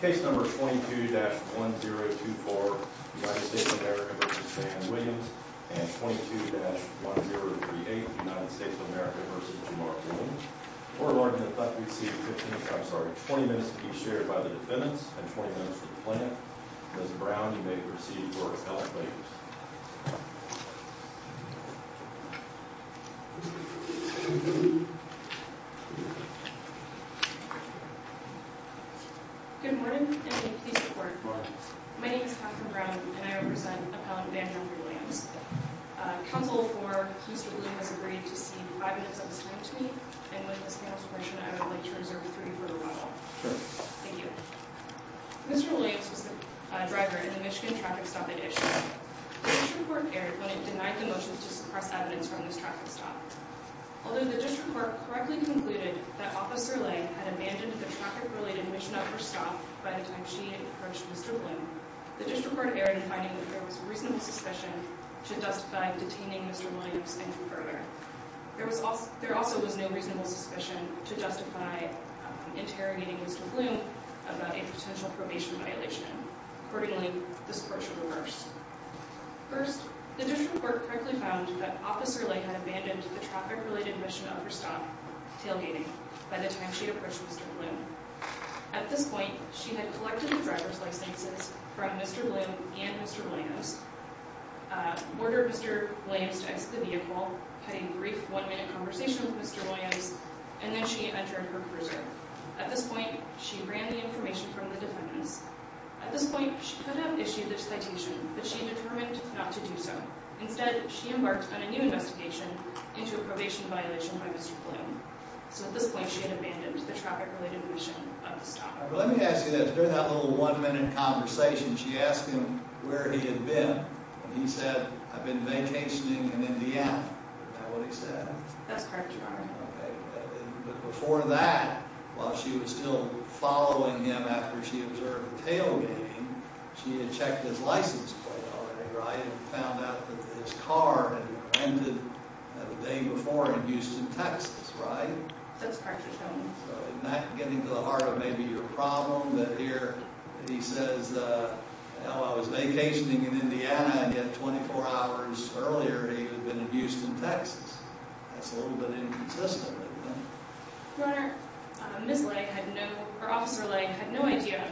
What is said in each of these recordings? Case number 22-1024, United States of America v. Van Williams and 22-1038, United States of America v. Jamar Williams. Oral argument, I thought we'd see 15 minutes, I'm sorry, 20 minutes to be shared by the defendants and 20 minutes for the plaintiff. Ms. Brown, you may proceed for a couple of minutes. Good morning, and may you please report forward. My name is Catherine Brown, and I represent Appellant Vanjie Williams. Counsel for the police has agreed to cede five minutes of his time to me, and with this confirmation I would like to reserve three for rebuttal. Thank you. Mr. Williams was the driver in the Michigan traffic stop at Ishtar. The district court erred when it denied the motion to suppress evidence from this traffic stop. Although the district court correctly concluded that Officer Lay had abandoned the traffic-related mission of her stop by the time she had approached Mr. Bloom, the district court erred in finding that there was reasonable suspicion to justify detaining Mr. Williams and her brother. There also was no reasonable suspicion to justify interrogating Mr. Bloom about a potential probation violation. Accordingly, this court should reverse. First, the district court correctly found that Officer Lay had abandoned the traffic-related mission of her stop, tailgating, by the time she had approached Mr. Bloom. At this point, she had collected the driver's licenses from Mr. Bloom and Mr. Williams, ordered Mr. Williams to exit the vehicle, had a brief one-minute conversation with Mr. Williams, and then she entered her cruiser. At this point, she ran the information from the defendants. At this point, she could have issued the citation, but she had determined not to do so. Instead, she embarked on a new investigation into a probation violation by Mr. Bloom. So at this point, she had abandoned the traffic-related mission of the stop. Let me ask you this. During that little one-minute conversation, she asked him where he had been, and he said, I've been vacationing in Indiana. Is that what he said? That's correct, Your Honor. But before that, while she was still following him after she observed the tailgating, she had checked his license plate already, right? And found out that his car had been rented the day before in Houston, Texas, right? That's correct, Your Honor. So in that, getting to the heart of maybe your problem, that here he says, hell, I was vacationing in Indiana, and yet 24 hours earlier he had been in Houston, Texas. That's a little bit inconsistent, right? Your Honor, Ms. Lay had no, or Officer Lay had no idea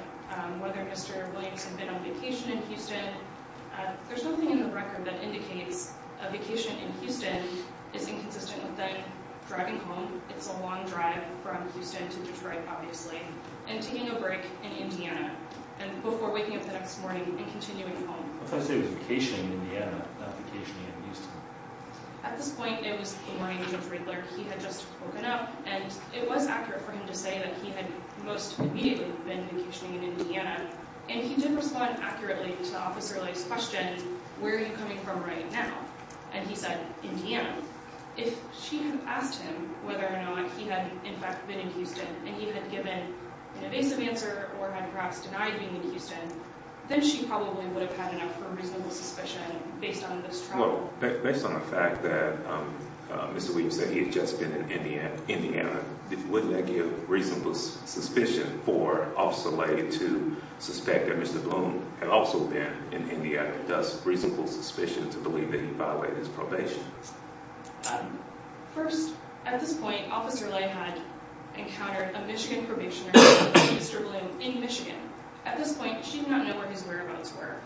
whether Mr. Williams had been on vacation in Houston. There's nothing in the record that indicates a vacation in Houston is inconsistent with that. Driving home, it's a long drive from Houston to Detroit, obviously, and taking a break in Indiana before waking up the next morning and continuing home. What if I say he was vacationing in Indiana, not vacationing in Houston? At this point, it was boring. Judge Riedler, he had just woken up, and it was accurate for him to say that he had most immediately been vacationing in Indiana. And he did respond accurately to Officer Lay's question, where are you coming from right now? And he said, Indiana. If she had asked him whether or not he had, in fact, been in Houston, and he had given an evasive answer or had perhaps denied being in Houston, then she probably would have had enough of a reasonable suspicion based on this trial. Based on the fact that Mr. Williams said he had just been in Indiana, wouldn't that give reasonable suspicion for Officer Lay to suspect that Mr. Bloom had also been in Indiana, thus reasonable suspicion to believe that he violated his probation? First, at this point, Officer Lay had encountered a Michigan probationer, Mr. Bloom, in Michigan. At this point, she did not know where his whereabouts were.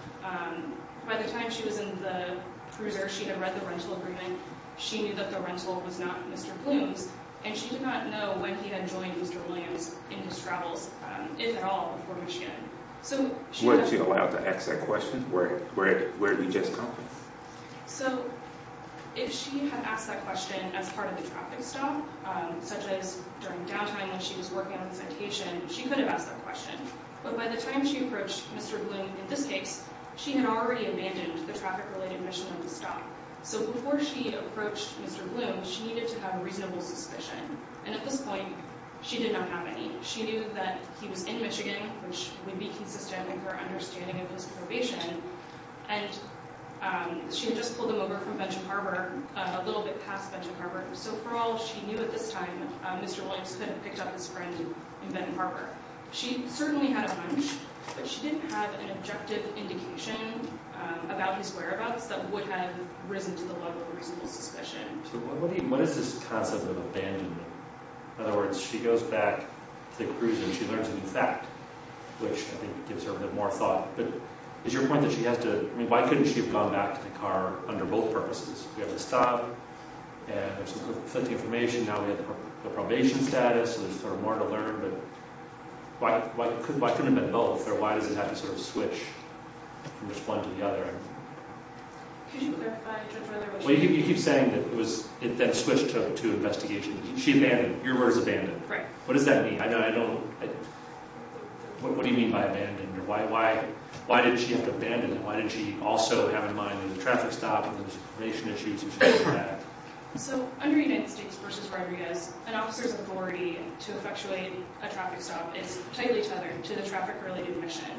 By the time she was in the cruiser, she had read the rental agreement, she knew that the rental was not Mr. Bloom's, and she did not know when he had joined Mr. Williams in his travels, if at all, before Michigan. Weren't you allowed to ask that question? Where are you just coming from? If she had asked that question as part of the traffic stop, such as during downtime when she was working on the citation, she could have asked that question. But by the time she approached Mr. Bloom in this case, she had already abandoned the traffic-related mission of the stop. So before she approached Mr. Bloom, she needed to have reasonable suspicion. And at this point, she did not have any. She knew that he was in Michigan, which would be consistent with her understanding of his probation, and she had just pulled him over from Benton Harbor, a little bit past Benton Harbor. So for all she knew at this time, Mr. Williams could have picked up his friend in Benton Harbor. She certainly had a hunch, but she didn't have an objective indication about his whereabouts that would have risen to the level of reasonable suspicion. So what is this concept of abandonment? In other words, she goes back to the cruise and she learns a new fact, which I think gives her a bit more thought. But is your point that she has to— I mean, why couldn't she have gone back to the car under both purposes? We have the stop, and there's some conflicting information. Now we have the probation status, and there's sort of more to learn, but why couldn't it have been both, or why does it have to sort of switch from one to the other? Could you clarify a bit further what you mean? Well, you keep saying that it then switched to investigation. She abandoned. Your word is abandoned. Right. What does that mean? What do you mean by abandoned? Why did she have to abandon him? Why did she also have in mind the traffic stop and those information issues? So under United States v. Rodriguez, an officer's authority to effectuate a traffic stop is tightly tethered to the traffic-related mission.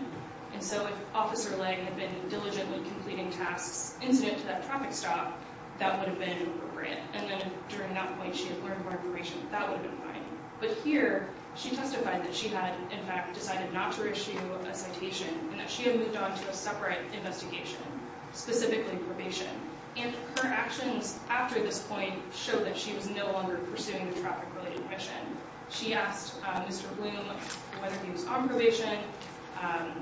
And so if Officer Lang had been diligently completing tasks incident to that traffic stop, that would have been appropriate. And then during that point, she had learned more information. That would have been fine. But here, she testified that she had, in fact, decided not to issue a citation and that she had moved on to a separate investigation, specifically probation. And her actions after this point show that she was no longer pursuing the traffic-related mission. She asked Mr. Bloom whether he was on probation,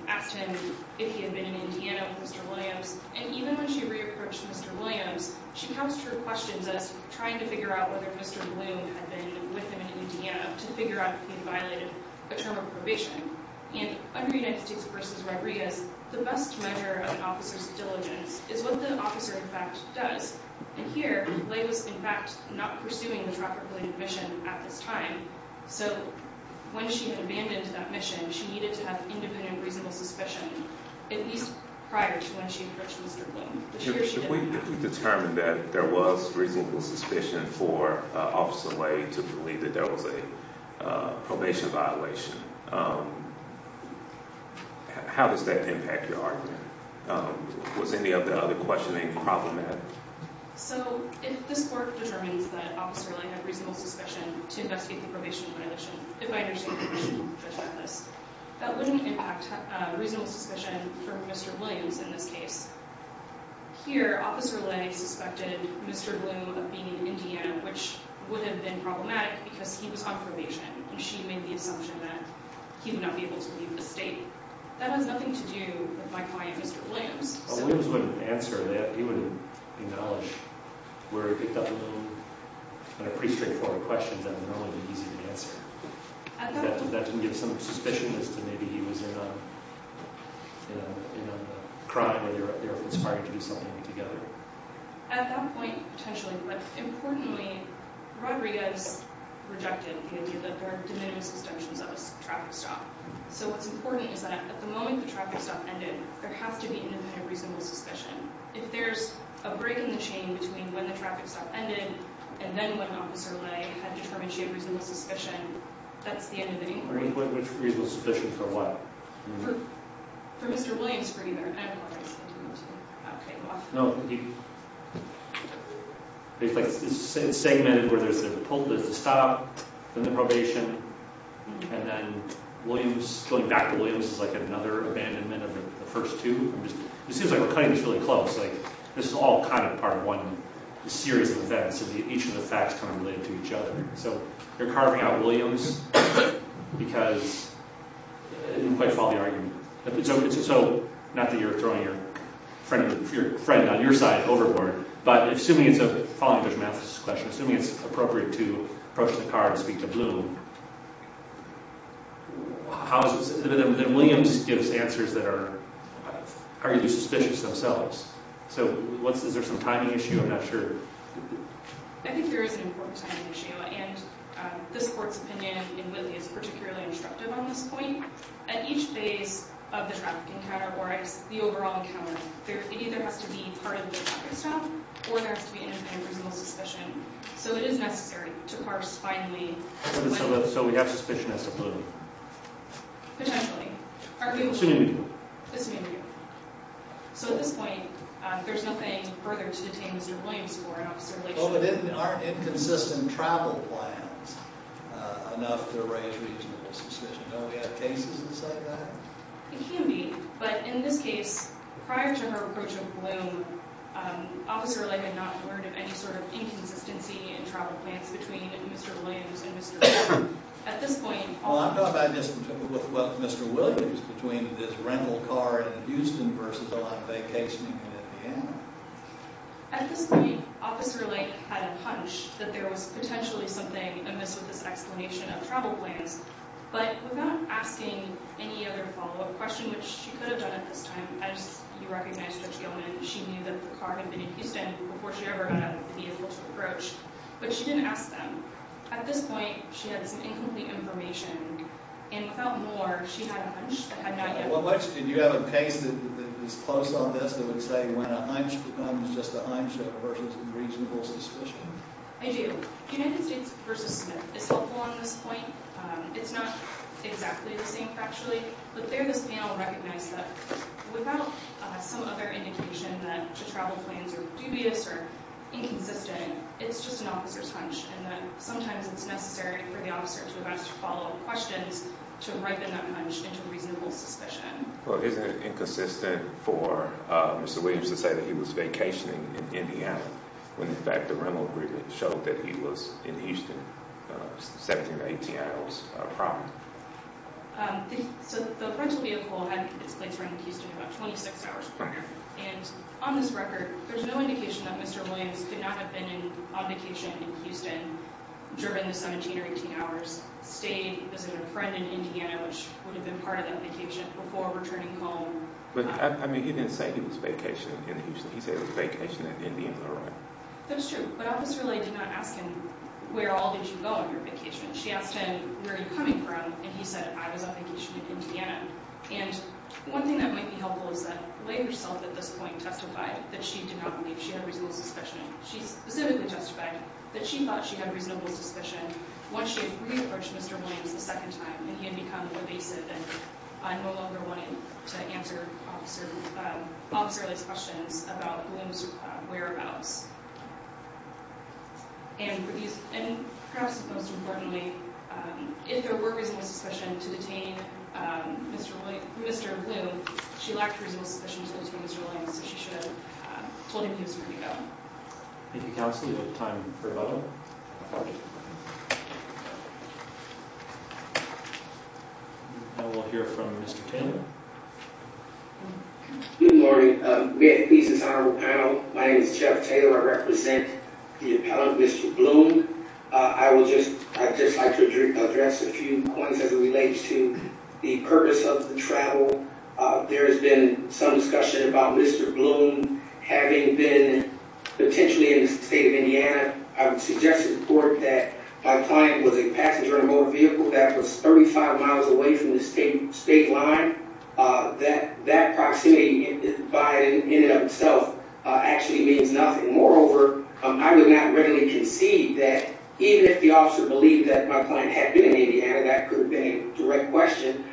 asked him if he had been in Indiana with Mr. Williams, and even when she re-approached Mr. Williams, she couched her questions as trying to figure out whether Mr. Bloom had been with him in Indiana to figure out if he had violated a term of probation. And under United States v. Rodriguez, the best measure of an officer's diligence is what the officer, in fact, does. And here, Leigh was, in fact, not pursuing the traffic-related mission at this time. So when she had abandoned that mission, she needed to have independent reasonable suspicion, at least prior to when she approached Mr. Bloom. This year, she did not. If we determine that there was reasonable suspicion for Officer Leigh to believe that there was a probation violation, how does that impact your argument? Was any of the other questioning problematic? So if this court determines that Officer Leigh had reasonable suspicion to investigate the probation violation, if I understand the question, Judge Mathis, that wouldn't impact reasonable suspicion for Mr. Williams in this case. Here, Officer Leigh suspected Mr. Bloom of being in Indiana, which would have been problematic because he was on probation, and she made the assumption that he would not be able to leave the state. That has nothing to do with my client, Mr. Williams. Williams wouldn't answer that. He would acknowledge where he picked up on a pretty straightforward question that would normally be easy to answer. That didn't give some suspicion as to maybe he was in a crime where they were conspiring to do something together. At that point, potentially, but importantly, Rodriguez rejected the idea that there are de minimis assumptions of a traffic stop. So what's important is that at the moment the traffic stop ended, there has to be independent reasonable suspicion. If there's a break in the chain between when the traffic stop ended and then when Officer Leigh had determined she had reasonable suspicion, that's the end of the inquiry. Which reasonable suspicion for what? For Mr. Williams, for either. I don't know why I said that. No. It's segmented where there's the stop, then the probation, and then Williams, going back to Williams, is like another abandonment of the first two. It seems like we're cutting this really close. This is all kind of part of one series of events. Each of the facts kind of related to each other. So you're carving out Williams because it didn't quite follow the argument. So not that you're throwing your friend on your side overboard, but assuming it's appropriate to approach the car and speak to Bloom, then Williams gives answers that are arguably suspicious themselves. So is there some timing issue? I'm not sure. I think there is an important timing issue, and this Court's opinion in Whitley is particularly instructive on this point. At each phase of the traffic encounter, or the overall encounter, it either has to be part of the traffic stop or there has to be independent reasonable suspicion. So it is necessary to parse finally... So we have suspicion as to Bloom. Potentially. So at this point, there's nothing further to detain Mr. Williams for in officer-related... Well, but aren't inconsistent travel plans enough to arrange reasonable suspicion? Don't we have cases that say that? It can be, but in this case, prior to her approach of Bloom, officer-related, not word of any sort of inconsistency in travel plans between Mr. Williams and Mr. Bloom. Well, I'm talking about Mr. Williams between his rental car in Houston versus on vacation in Indiana. At this point, Officer Lake had a punch that there was potentially something amiss with this explanation of travel plans, but without asking any other follow-up question, which she could have done at this time, as you recognize, Judge Gilman, she knew that the car had been in Houston before she ever had a vehicle to approach, but she didn't ask them. At this point, she had some incomplete information, and without more, she had a punch that had not yet been made. Do you have a case that is close on this that would say when a hunch becomes just a hunch versus reasonable suspicion? I do. United States v. Smith is helpful on this point. It's not exactly the same, factually, but there this panel recognized that the travel plans are dubious or inconsistent, it's just an officer's hunch and that sometimes it's necessary for the officer to ask follow-up questions to ripen that hunch into reasonable suspicion. Well, isn't it inconsistent for Mr. Williams to say that he was vacationing in Indiana when, in fact, the rental agreement showed that he was in Houston 17 to 18 hours prior? So the rental vehicle had its place around Houston about 26 hours prior, and on this record, there's no indication that Mr. Williams could not have been on vacation in Houston during the 17 or 18 hours, stayed, visited a friend in Indiana which would have been part of that vacation before returning home. But, I mean, he didn't say he was vacationing in Houston. He said he was vacationing in Indiana, right? That's true, but Officer Ley did not ask him where all did you go on your vacation. She asked him, where are you coming from? And he said, I was on vacation in Indiana. And one thing that might be helpful is that Ley herself at this point testified that she did not believe she had reasonable suspicion. She specifically testified that she thought she had reasonable suspicion once she had re-approached Mr. Williams a second time and he had become more evasive and no longer wanted to answer Officer Ley's questions about Bloom's whereabouts. And perhaps most importantly, if there were reasonable suspicion to detain Mr. Bloom, she lacked reasonable suspicion to detain Mr. Williams so she should have told him he was going to go. Thank you, Counsel. We have time for a vote. And we'll hear from Mr. Taylor. Good morning. My name is Jeff Taylor. I represent the appellant, Mr. Bloom. I would just like to address a few points as it relates to the purpose of the travel. There has been some discussion about Mr. Bloom having been potentially in the state of Indiana. I would suggest to the court that my client was a passenger in a motor vehicle that was 35 miles away from the state line. That proximity by in and of itself actually means nothing. Moreover, I would not readily concede that even if the officer believed that my client had been in Indiana, that could have been a direct question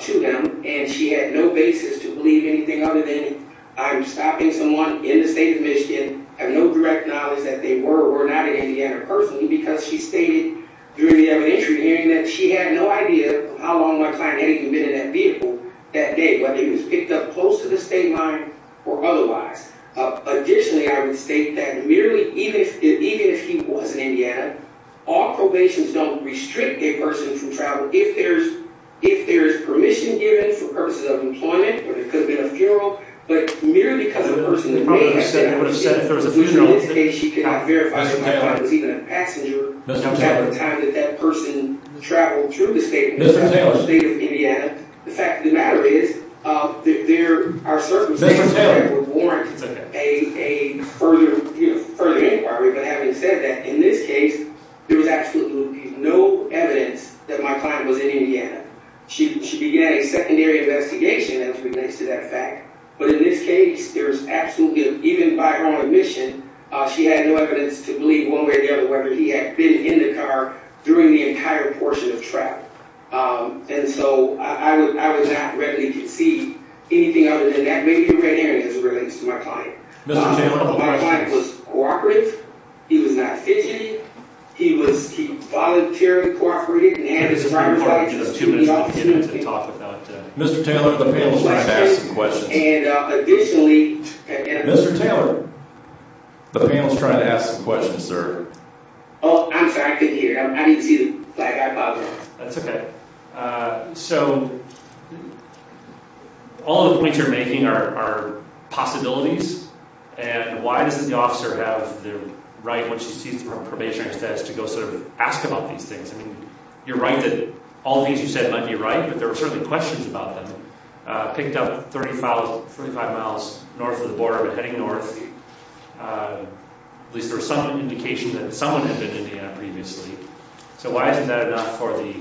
to him. And she had no basis to believe anything other than I'm stopping someone in the state of Michigan. I have no direct knowledge that they were or were not in Indiana personally because she stated during the evidentiary hearing that she had no idea how long my client had been in that vehicle that day, whether he was picked up close to the state line or otherwise. Additionally, I would state that merely even if he was in Indiana, all probations don't restrict a person from travel. If there's permission given for purposes of employment, whether it could have been a funeral, but merely because of a person that may have said that, she cannot verify that my client was even a passenger at the time that that person traveled through the state of Indiana. The fact of the matter is that there are circumstances that would warrant a further inquiry. But having said that, in this case, there was absolutely no evidence that my client was in Indiana. She began a secondary investigation as relates to that fact. But in this case, there was absolutely no, even by her own admission, she had no evidence to believe one way or the other whether he had been in the car during the entire portion of travel. And so, I would not readily concede anything other than that may be the right hearing as it relates to my client. My client was cooperative. He was not fidgety. He voluntarily cooperated and had the right opportunity. Mr. Taylor, the panel is trying to ask some questions. And additionally, Mr. Taylor, the panel is trying to ask some questions, sir. Oh, I'm sorry. I couldn't hear. I need to flag. I apologize. That's okay. So, all of the points you're making are possibilities. And why does the officer have the right, once she sees the probationary status, to go sort of ask about these things? I mean, you're right that all of these you said might be right, but there were certainly questions about them. Picked up 35 miles north of the border, but heading north, at least there was some indication that someone had been in Indiana previously. So why isn't that enough for the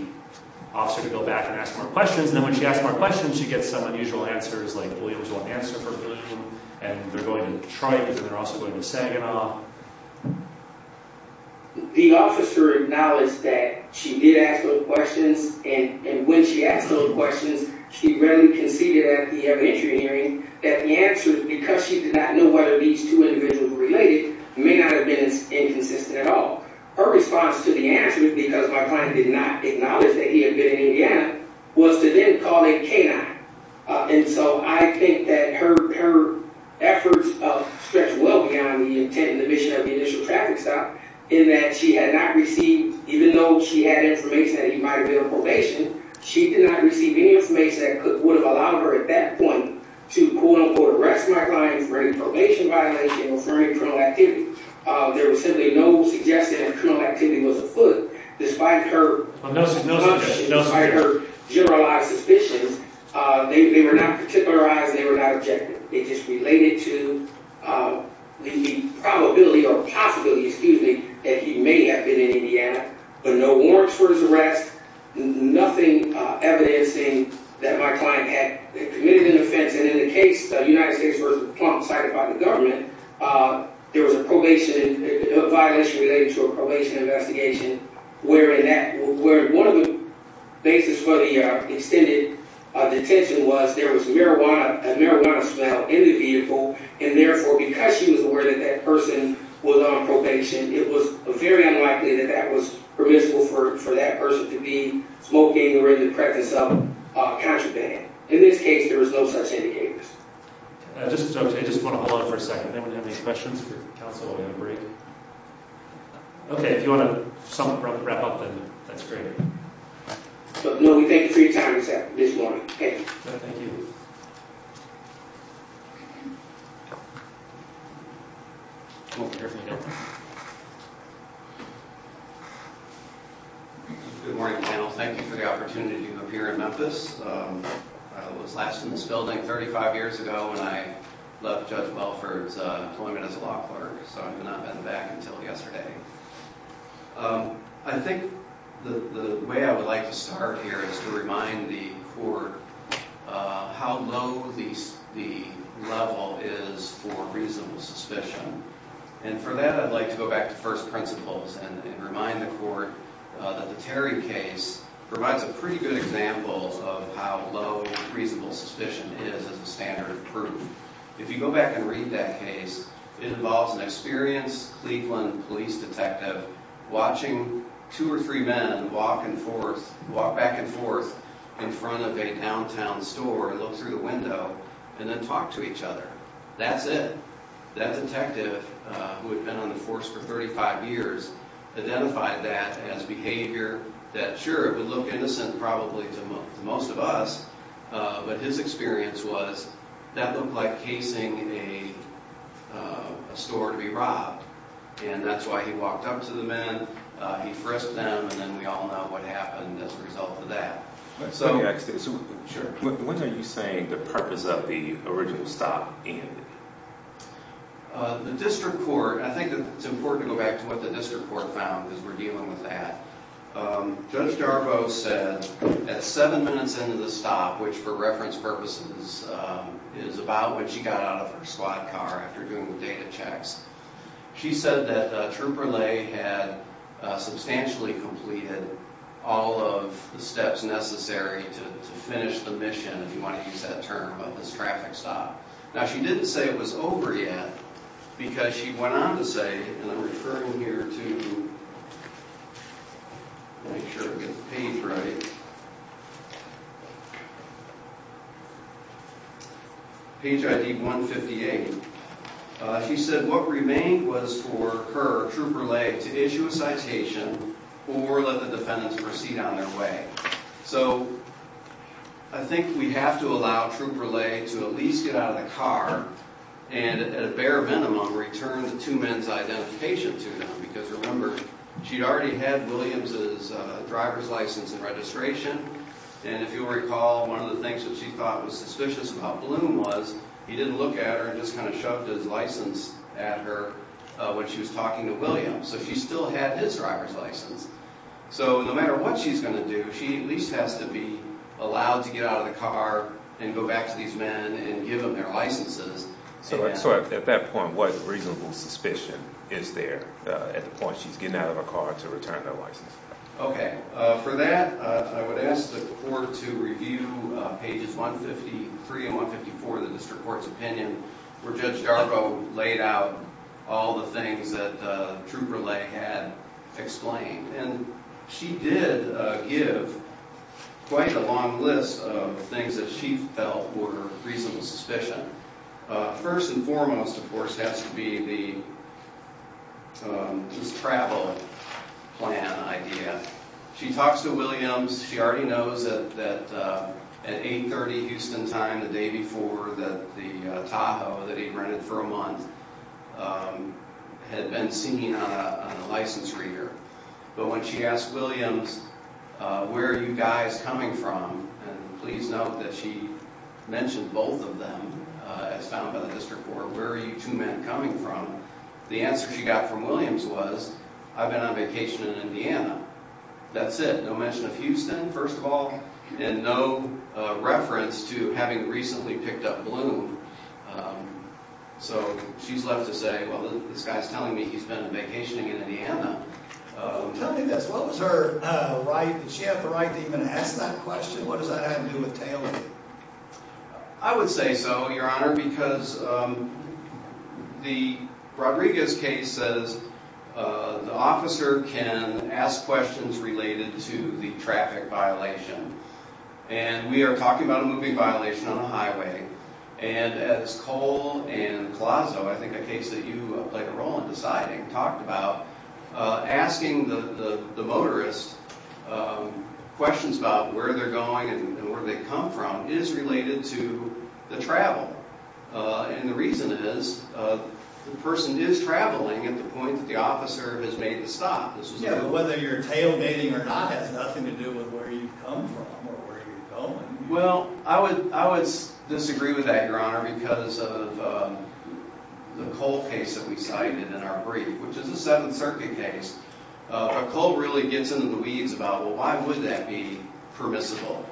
officer to go back and ask more questions? And then when she asks more questions, she gets some unusual answers like they're going to Tribes and they're also going to Saginaw. The officer acknowledged that she did ask those questions and when she asked those questions, she readily conceded at the eventual hearing that the answers, because she did not know whether these two individuals were related, may not have been inconsistent at all. Her response to the answers, because my client did not acknowledge that he had been in Indiana, was to then call a trial. I think that her efforts stretch well beyond the intent and the mission of the initial traffic stop in that she had not received, even though she had information that he might have been on probation, she did not receive any information that would have allowed her at that point to quote-unquote arrest my client for any probation violation or for any criminal activity. There was simply no suggestion that criminal activity was afoot. Despite her generalizing her suspicions, they were not particularized, they were not objective. They just related to the probability or possibility, excuse me, that he may have been in Indiana, but no warrants for his arrest, nothing evidencing that my client had committed an offense. In the case, United States v. Plum cited by the government, there was a violation related to a probation investigation where one of the basis for the extended detention was there was a marijuana smell in the vehicle, and therefore because she was aware that that person was on probation, it was very unlikely that that was permissible for that person to be smoking or in the practice of contraband. In this case, there was no such indicators. I just want to hold on for a second. Anyone have any questions for counsel? Okay, if you want to wrap up, then that's great. Thank you for your time this morning. Good morning, panel. Thank you for the opportunity to appear in Memphis. I was last in this building 35 years ago when I left Judge Welford's employment as a law clerk, so I have not been back until yesterday. I think the way I would like to start here is to remind the Court how low the level is for reasonable suspicion. For that, I'd like to go back to first principles and remind the Court that the Terry case provides a pretty good example of how low reasonable suspicion is as a standard proof. If you go back and read that case, it involves an experienced Cleveland police detective watching two or three men walk back and forth in front of a downtown store, look through the window, and then talk to each other. That's it. That detective, who had been on the force for 35 years, identified that as behavior that, sure, it would look innocent probably to most of us, but his experience was that looked like a store to be robbed. That's why he walked up to the men, he frisked them, and then we all know what happened as a result of that. When are you saying the purpose of the original stop ended? The District Court, I think it's important to go back to what the District Court found, because we're dealing with that. Judge Garbo said at seven minutes into the stop, which for reference purposes is about when she got out of her squad car after doing the data checks, she said that Trooper Lay had substantially completed all of the steps necessary to finish the mission, if you want to use that term, of this traffic stop. Now, she didn't say it was over yet, because she went on to say, and I'm referring here to... make sure I get the page ready... She said what remained was for her, Trooper Lay, to issue a citation or let the defendants proceed on their way. I think we have to allow Trooper Lay to at least get out of the car and at a bare minimum return the two men's identification to them, because remember, she'd already had Williams' driver's license and registration, and if you'll recall one of the things that she thought was suspicious about Bloom was he didn't look at her and just kind of shoved his license at her when she was talking to Williams. So she still had his driver's license. So no matter what she's going to do, she at least has to be allowed to get out of the car and go back to these men and give them their licenses. So at that point, what reasonable suspicion is there at the point she's getting out of her car to return that license? Okay. For that, I would ask the court to review pages 153 and 154 of the district court's opinion where Judge Yarbrough laid out all the things that Trooper Lay had explained. And she did give quite a long list of things that she felt were reasonable suspicion. First and foremost, of course, has to be the travel plan idea. She talks to Williams. She already knows that at 8.30 Houston time, the day before, that the Tahoe that he'd rented for a month had been seen on a license reader. But when she asked Williams, where are you guys coming from? And please note that she mentioned both of them as found by the district court. The answer she got from Williams was, I've been on vacation in Indiana. That's it. No mention of Houston, first of all, and no reference to having recently picked up Bloom. So, she's left to say, well, this guy's telling me he's been vacationing in Indiana. Tell me this, what was her right, did she have the right to even ask that question? What does that have to do with Taylor? I would say so, Your Honor, because the Rodriguez case says the officer can ask questions related to the traffic violation. And we are talking about a moving violation on a highway, and as Cole and Palazzo, I think a case that you played a role in deciding, talked about, asking the motorist questions about where they're going and where they come from is related to the travel. And the reason is, the person is traveling at the point that the officer has made the stop. Whether you're tailgating or not has nothing to do with where you come from or where you're going. Well, I would disagree with that, Your Honor, because of the Cole case that we cited in our brief, which is a Seventh Circuit case. But Cole really gets into the weeds about, well, why would that be permissible?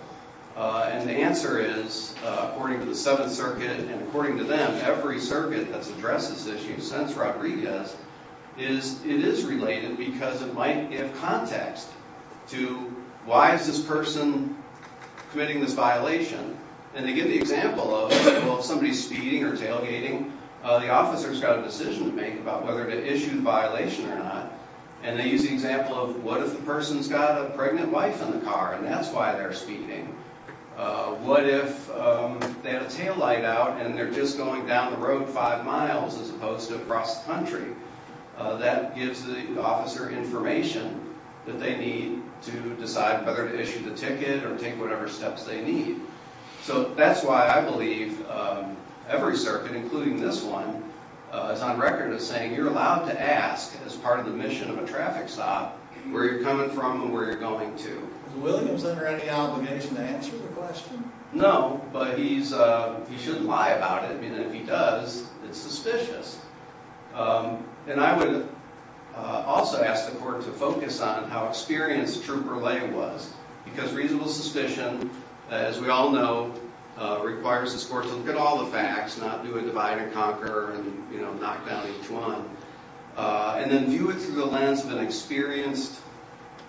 And the answer is, according to the Seventh Circuit and according to them, every property does, is it is related because it might give context to why is this person committing this violation? And they give the example of, well, if somebody's speeding or tailgating, the officer has got a decision to make about whether to issue the violation or not. And they use the example of, what if the person's got a pregnant wife in the car and that's why they're speeding? What if they had a tail light out and they're just going down the cross country? That gives the officer information that they need to decide whether to issue the ticket or take whatever steps they need. So that's why I believe every circuit, including this one, is on record as saying you're allowed to ask, as part of the mission of a traffic stop, where you're coming from and where you're going to. Is Williams under any obligation to answer the question? No, but he's he shouldn't lie about it. I mean, if he does, it's suspicious. And I would also ask the court to focus on how experienced Trooper Lay was because reasonable suspicion, as we all know, requires this court to look at all the facts, not do a divide and conquer and, you know, knock down each one. And then view it through the lens of an experienced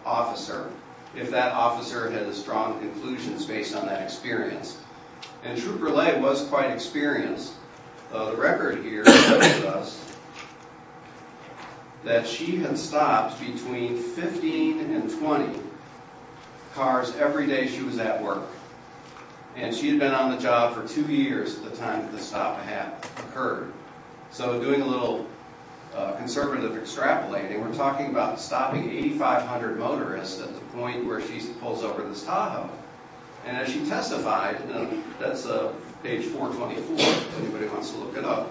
officer, if that officer had a strong conclusions based on that experience. And Trooper Lay was quite experienced. The record here tells us that she had stopped between 15 and 20 cars every day she was at work. And she had been on the job for two years at the time that the stop had occurred. So doing a little conservative extrapolating, we're talking about stopping 8,500 motorists at the point where she pulls over this Tahoe. And as she testified, that's page 424 if anybody wants to look it up.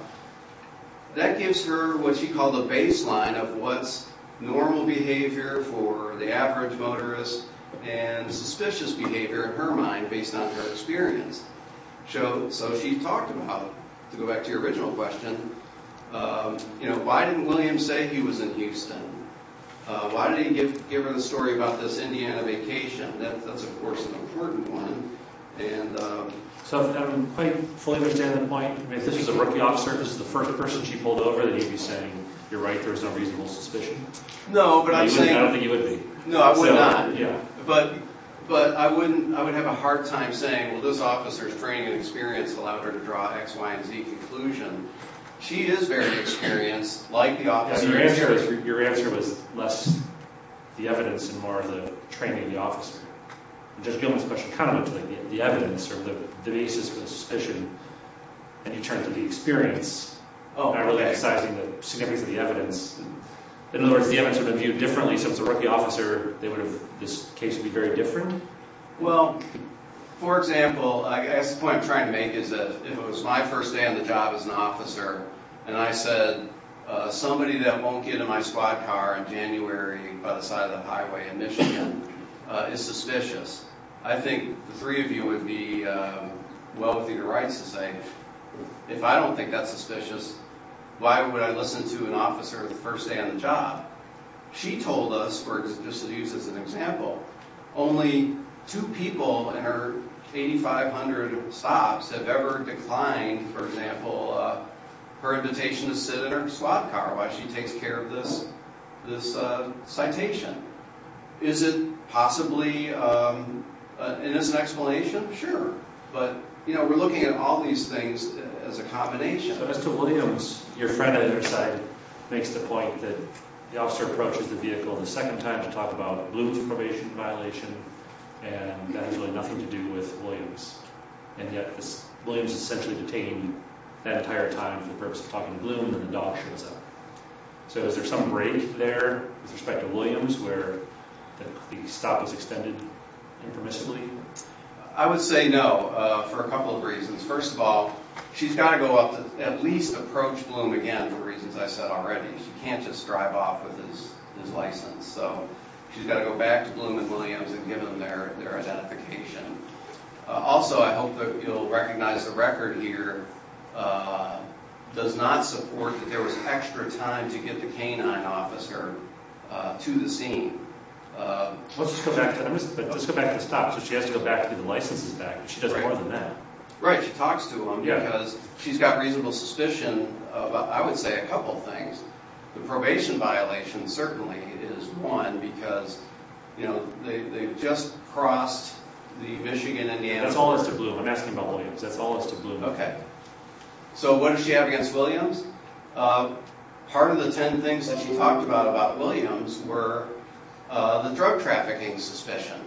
That gives her what she called a baseline of what's normal behavior for the average motorist and suspicious behavior in her mind based on her experience. So she talked about, to go back to your original question, you know, why didn't William Why didn't he give her the story about this Indiana vacation? That's, of course, an important one. So I don't quite fully understand the point. If this was a rookie officer, this is the first person she pulled over that you'd be saying you're right, there's no reasonable suspicion. No, but I'm saying... I don't think you would be. No, I would not. But I would have a hard time saying, well, this officer's training and experience allowed her to draw a X, Y, and Z conclusion. She is very experienced, like the officer. Your answer was less the evidence and more the training of the officer. Judge Gilman's question kind of went to the evidence or the basis for the suspicion and you turned to the experience not really emphasizing the significance of the evidence. In other words, the evidence would have been viewed differently, so if it was a rookie officer this case would be very different? Well, for example, I guess the point I'm trying to make is that if it was my first day on the job as an officer and I said somebody that won't get in my squad car in January by the side of the highway in Michigan is suspicious, I think the three of you would be wealthy to rights to say if I don't think that's suspicious, why would I listen to an officer the first day on the job? She told us, just to use as an example, only two people in her 8,500 stops have ever declined, for example, her invitation to sit in her squad car while she takes care of this citation. Is it possibly an innocent explanation? Sure. But, you know, we're looking at all these things as a combination. But as to Williams, your friend on the other side makes the point that the officer approaches the vehicle the second time to talk about Bloom's probation violation and that has really nothing to do with Williams, and yet Williams is essentially detained that entire time for the purpose of talking to Bloom and the dog shows up. So is there some break there with respect to Williams where the stop is extended impermissibly? I would say no for a couple of reasons. First of all, she's got to go up to at least approach Bloom again for reasons I said already. She can't just drive off with his license, so she's got to go back to Bloom and Williams and give them their identification. Also, I hope that you'll recognize the record here does not support that there was extra time to get the canine officer to the scene. Let's just go back to the stop. So she has to go back to get the licenses back. She does more than that. Right, she talks to him because she's got reasonable suspicion of, I would say, a couple of things. The probation violation certainly is one because you know, they just crossed the Michigan-Indiana That's all as to Bloom. I'm asking about Williams. That's all as to Bloom. Okay. So what does she have against Williams? Part of the ten things that she talked about about Williams were the drug trafficking suspicion.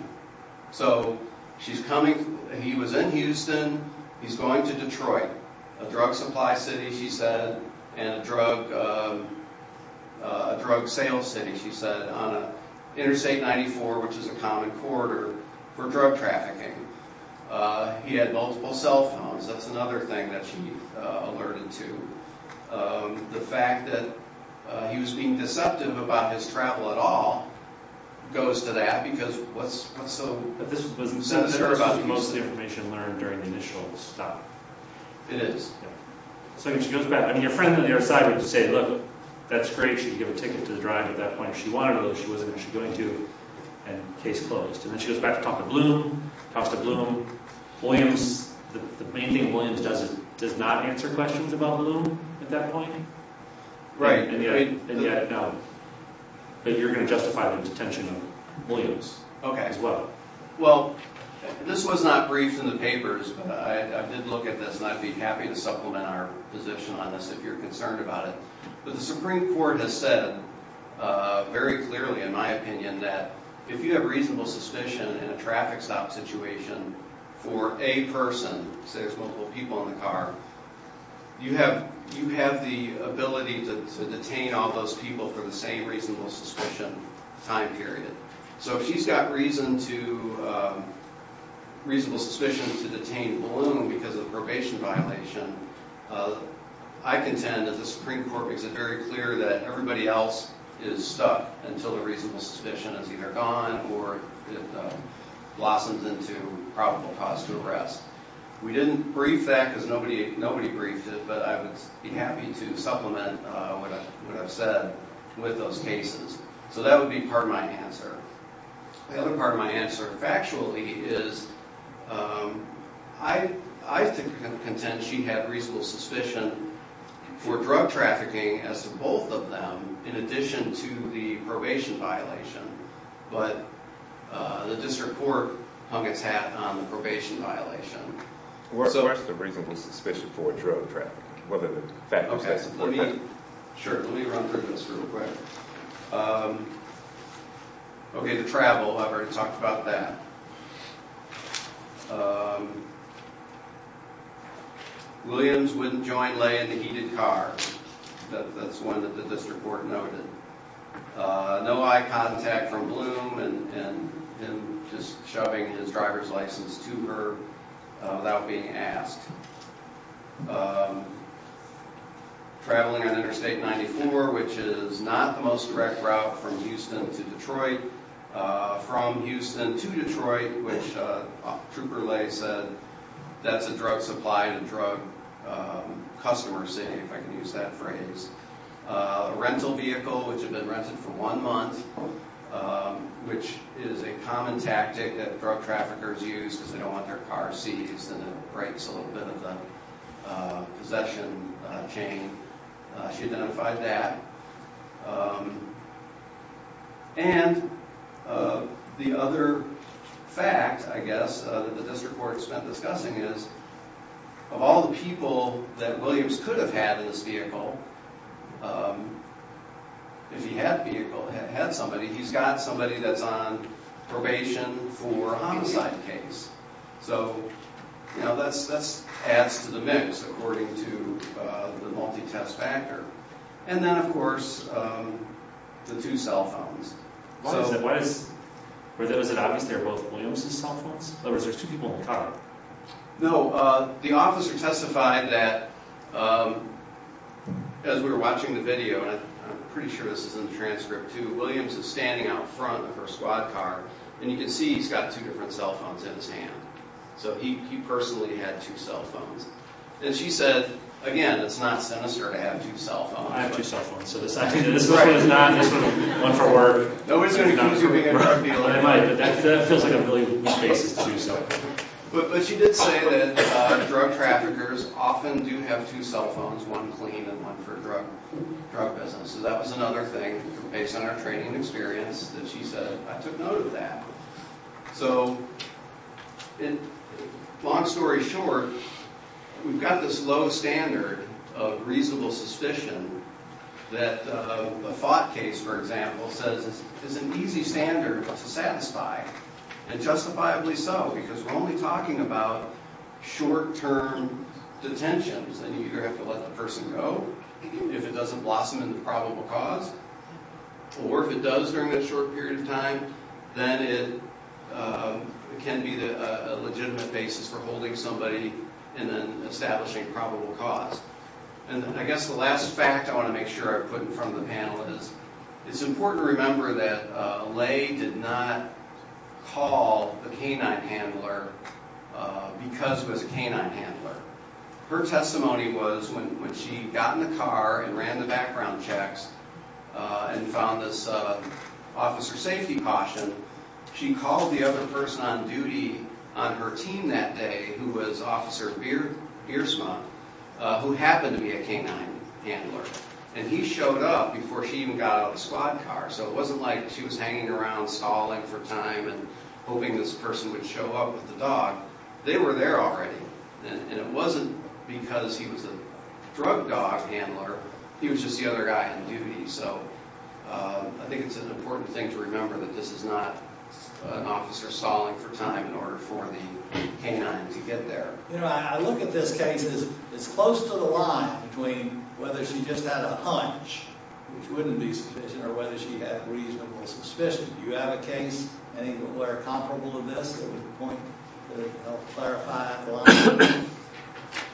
She's coming. He was in Houston. He's going to Detroit, a drug supply city, she said, and a drug sale city, she said, on Interstate 94, which is a common corridor for drug trafficking. He had multiple cell phones. That's another thing that she alerted to. The fact that he was being deceptive about his travel at all goes to that because what's so not sure about Houston? This was most of the information learned during the initial stop. It is. I mean, your friend on the other side would just say, look, that's great. She can give a ticket to the drive at that point. If she wanted to, she wasn't actually going to, and case closed. She goes back to talk to Bloom. Williams, the main thing Williams does is not answer questions about Bloom at that point. Right. No. You're going to justify the detention of Williams as well. This was not briefed in the papers, but I did look at this and I'd be happy to supplement our position on this if you're concerned about it. The Supreme Court has said very clearly, in my opinion, that if you have reasonable suspicion in a traffic stop situation for a person, say there's multiple people in the car, you have the ability to detain all those people for the same reasonable suspicion time period. If she's got reasonable suspicion to detain Bloom because of a probation violation, I contend that the Supreme Court makes it very clear that everybody else is stuck until the reasonable suspicion is either gone or it blossoms into probable cause to arrest. We didn't brief that because nobody briefed it, but I would be happy to supplement what I've said with those cases. So that would be part of my answer. The other part of my answer, factually, is I contend she had reasonable suspicion for drug trafficking as to both of them, in addition to the probation violation, but the District Court hung its hat on the probation violation. Where's the reasonable suspicion for drug trafficking? Let me run through this real quick. Okay, to travel, I've already talked about that. Williams wouldn't join Trooper Lay in the heated car. That's one that the District Court noted. No eye contact from Bloom and him just shoving his driver's license to her without being asked. Traveling on Interstate 94, which is not the most direct route from Houston to Detroit. From Houston to Detroit, which Trooper Lay said, that's a drug supply to drug customers, say, if I can use that phrase. A rental vehicle, which had been rented for one month, which is a common tactic that drug traffickers use because they don't want their car seized and it breaks a little bit of the possession chain. She identified that. And the other fact, I guess, that the District Court spent discussing is of all the people that Williams could have had in this vehicle, if he had somebody, he's got somebody that's on probation for a homicide case. So, that adds to the mix according to the multi-test factor. And then, of course, the two cell phones. Was it obvious they were both Williams' cell phones? In other words, there's two people in the car. No. The officer testified that as we were watching the video, and I'm pretty sure this is in the transcript too, Williams is standing out front of her squad car and you can see he's got two different cell phones in his hand. So, he personally had two cell phones. And she said, again, it's not sinister to have two cell phones. I have two cell phones. So, this actually is not one for work. No one's going to accuse you of being a drug dealer, but that feels like a really loose basis to do so. But she did say that drug traffickers often do have two cell phones, one clean and one for drug business. So, that was another thing, based on her training and experience that she said, I took note of that. So, long story short, we've got this low standard of reasonable suspicion that a FOT case, for example, says it's an easy standard to satisfy. And justifiably so, because we're only talking about short-term detentions. And you either have to let the person go, if it doesn't blossom into probable cause, or if it does during that short period of time, then it can be a legitimate basis for holding somebody and then establishing probable cause. And I guess the last fact I want to make sure I put in front of the panel is, it's important to remember that Lay did not call a canine handler because it was a canine handler. Her testimony was, when she got in the car and ran the background checks and found this officer safety caution, she called the other person on duty on her team that day, who was Officer Beersma, who happened to be a canine before she even got out of the squad car. So it wasn't like she was hanging around, stalling for time and hoping this person would show up with the dog. They were there already. And it wasn't because he was a drug dog handler. He was just the other guy on duty. So I think it's an important thing to remember that this is not an officer stalling for time in order for the canine to get there. I look at this case as close to the line between whether she just had a hunch, which wouldn't be sufficient, or whether she had reasonable suspicion. Do you have a case anywhere comparable to this that would help clarify that line?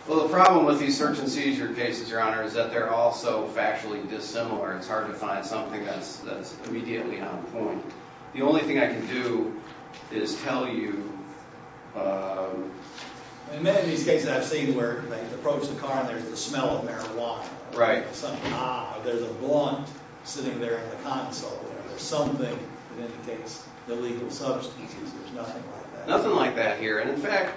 Well, the problem with these search and seizure cases, Your Honor, is that they're all so factually dissimilar. It's hard to find something that's immediately on point. The only thing I can do is tell you... In many of these cases I've seen where they say, ah, there's a blunt sitting there in the console. There's something that indicates the legal substance. There's nothing like that. Nothing like that here. And in fact...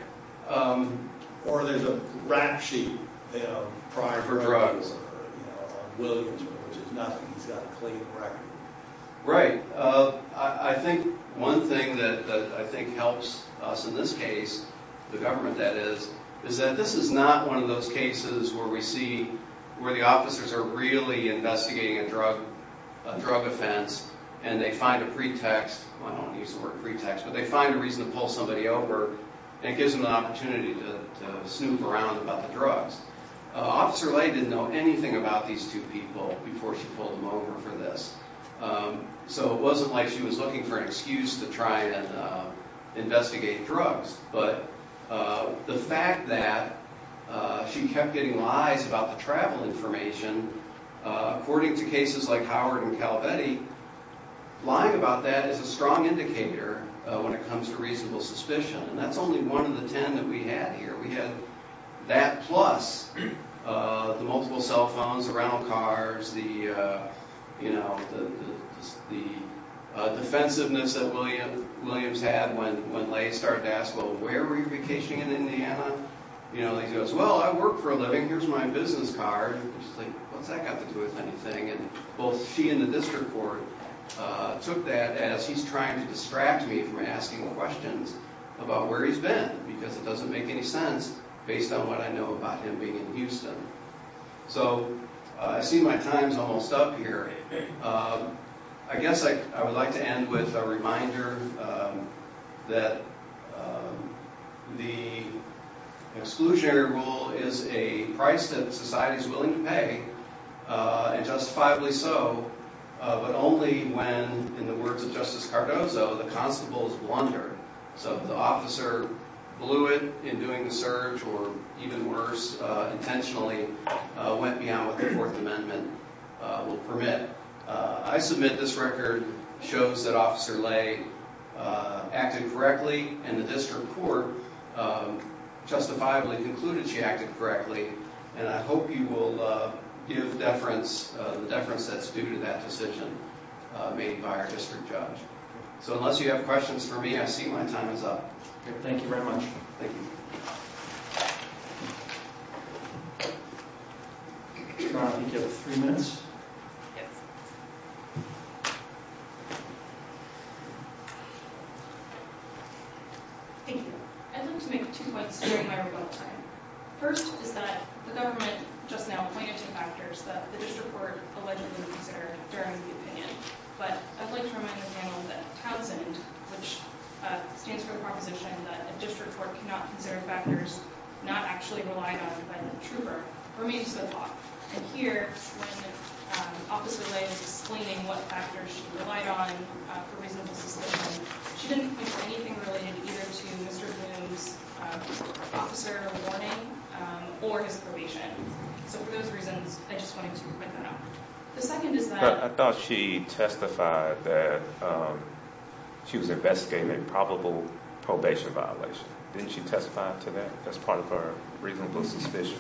Or there's a rap sheet for drugs on Williamson, which is nothing. He's got a clean record. Right. I think one thing that I think helps us in this case, the government that is, is that this is not one of those cases where we see where the officers are really investigating a drug offense and they find a pretext. I don't use the word pretext, but they find a reason to pull somebody over and it gives them an opportunity to snoop around about the drugs. Officer Lay didn't know anything about these two people before she pulled them over for this. So it wasn't like she was looking for an excuse to try and investigate drugs. But the government kept getting lies about the travel information, according to cases like Howard and Calabetti. Lying about that is a strong indicator when it comes to reasonable suspicion. And that's only one of the ten that we had here. We had that plus the multiple cell phones, the rental cars, the defensiveness that Williams had when Lay started to ask, well, where were you vacationing in Indiana? He goes, well, I work for a living. Here's my business card. She's like, what's that got to do with anything? Both she and the district court took that as he's trying to distract me from asking questions about where he's been, because it doesn't make any sense based on what I know about him being in Houston. So I see my time's almost up here. I guess I would like to end with a reminder that the exclusionary rule is a price that society is willing to pay, and justifiably so, but only when, in the words of Justice Cardozo, the constables wonder. So if the officer blew it in doing the search or, even worse, intentionally went beyond what the Fourth Amendment would permit, I submit this record shows that Officer Lay acted correctly, and the district court justifiably concluded she acted correctly, and I hope you will give deference the deference that's due to that decision made by our district judge. So unless you have questions for me, I see my time is up. Thank you very much. Thank you. I think you have three minutes. Yes. Thank you. I'd like to make two points during my rebuttal time. First is that the government just now pointed to factors that the district court allegedly considered during the opinion, but I'd like to remind the panel that Townsend, which stands for the proposition that a district court cannot consider factors not actually relied on by the trooper, remains the law. And here, when Officer Lay is explaining what factors she relied on for reasonable suspicion, she didn't point to anything related either to Mr. Bloom's officer warning or his probation. So for those reasons, I just wanted to point that out. The second is that... I thought she testified that she was investigating a probable probation violation. Didn't she testify to that as part of her reasonable suspicion?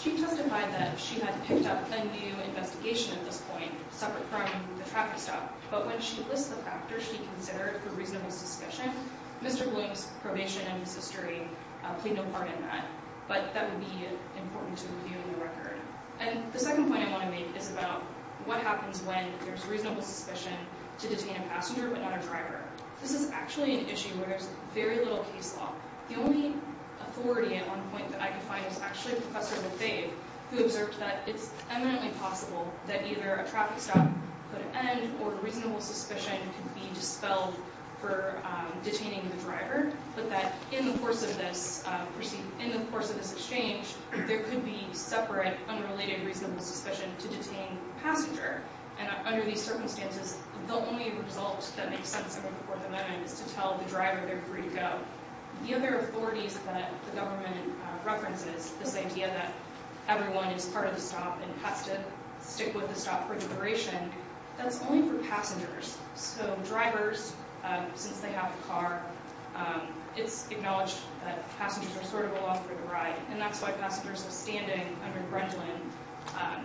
She testified that she had picked up a new investigation at this point, separate from the traffic stop, but when she lists the factors she considered for reasonable suspicion, Mr. Bloom's probation and his history played no part in that. But that would be important to review in the record. And the second point I want to make is about what happens when there's reasonable suspicion to detain a passenger but not a driver. This is actually an issue where there's very little case law. The only authority at one point that I could find was actually Professor Lefebvre, who observed that it's eminently possible that either a traffic stop could end or reasonable suspicion could be dispelled for detaining the driver, but that in the course of this exchange, there could be separate, unrelated reasonable suspicion to detain the passenger. And under these circumstances, the only result that makes sense in the Fourth Amendment is to tell the driver they're free to go. The other authorities that the government references, this idea that everyone is part of the stop and has to stick with the stop for deliberation, that's only for passengers. So drivers, since they have a car, it's acknowledged that passengers are sort of allowed for the ride, and that's why passengers are standing under Grendlin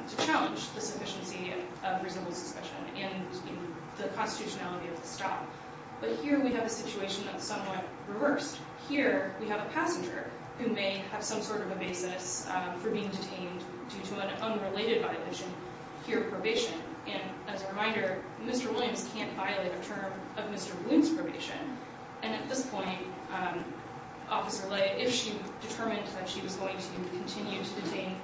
to challenge the sufficiency of reasonable suspicion and the constitutionality of the stop. But here we have a situation that's somewhat reversed. Here we have a passenger who may have some sort of a basis for being detained due to an unrelated violation here of probation. And as a reminder, Mr. Williams can't violate a term of Mr. Bloom's probation. And at this point, Officer Lay, if she determined that she was going to continue to detain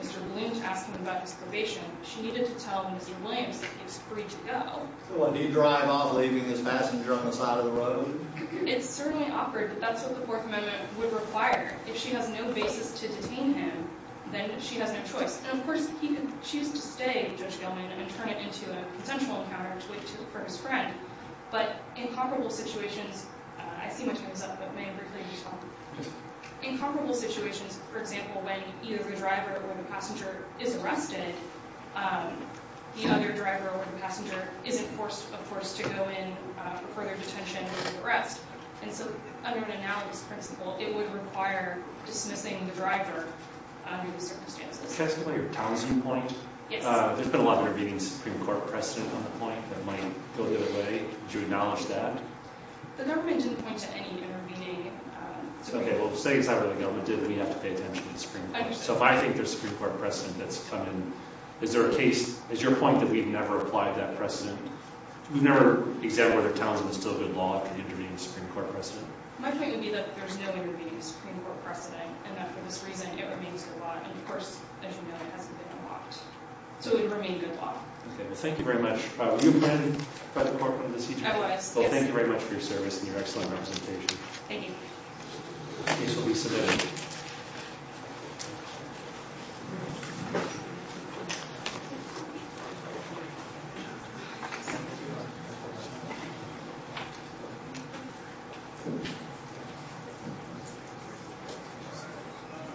Mr. Bloom to ask him about his probation, she needed to tell Mr. Williams that he was free to go. So what, do you drive off leaving this passenger on the side of the road? It's certainly offered, but that's what the Fourth Amendment would require. If she has no basis to detain him, then she has no choice. And of course, he could choose to stay, Judge Gelman, and turn it into a consensual encounter to wait for his friend. But in comparable situations, I see my time's up, but may I briefly respond? In comparable situations, for example, when either the driver or the passenger is arrested, the other driver or passenger isn't forced, of course, to go in for further detention or arrest. And so, under an analogous principle, it would require dismissing the driver under the circumstances. Can I ask about your Townsend point? Yes. There's been a lot of intervening Supreme Court precedent on the point that might go the other way. Would you acknowledge that? The government didn't point to any intervening Supreme Court precedent. Well, say the government did, then we have to pay attention to the Supreme Court. So if I think there's Supreme Court precedent that's come in, is there a case, is your point that we've never applied that precedent? We've never examined whether Townsend is still good law to intervene Supreme Court precedent. My point would be that there's no intervening Supreme Court precedent and that, for this reason, it remains good law. And, of course, as you know, it hasn't been unlocked. So it would remain good law. Okay. Well, thank you very much. I was. Yes. Well, thank you very much for your service and your excellent representation. Thank you. Case will be submitted. Thank you.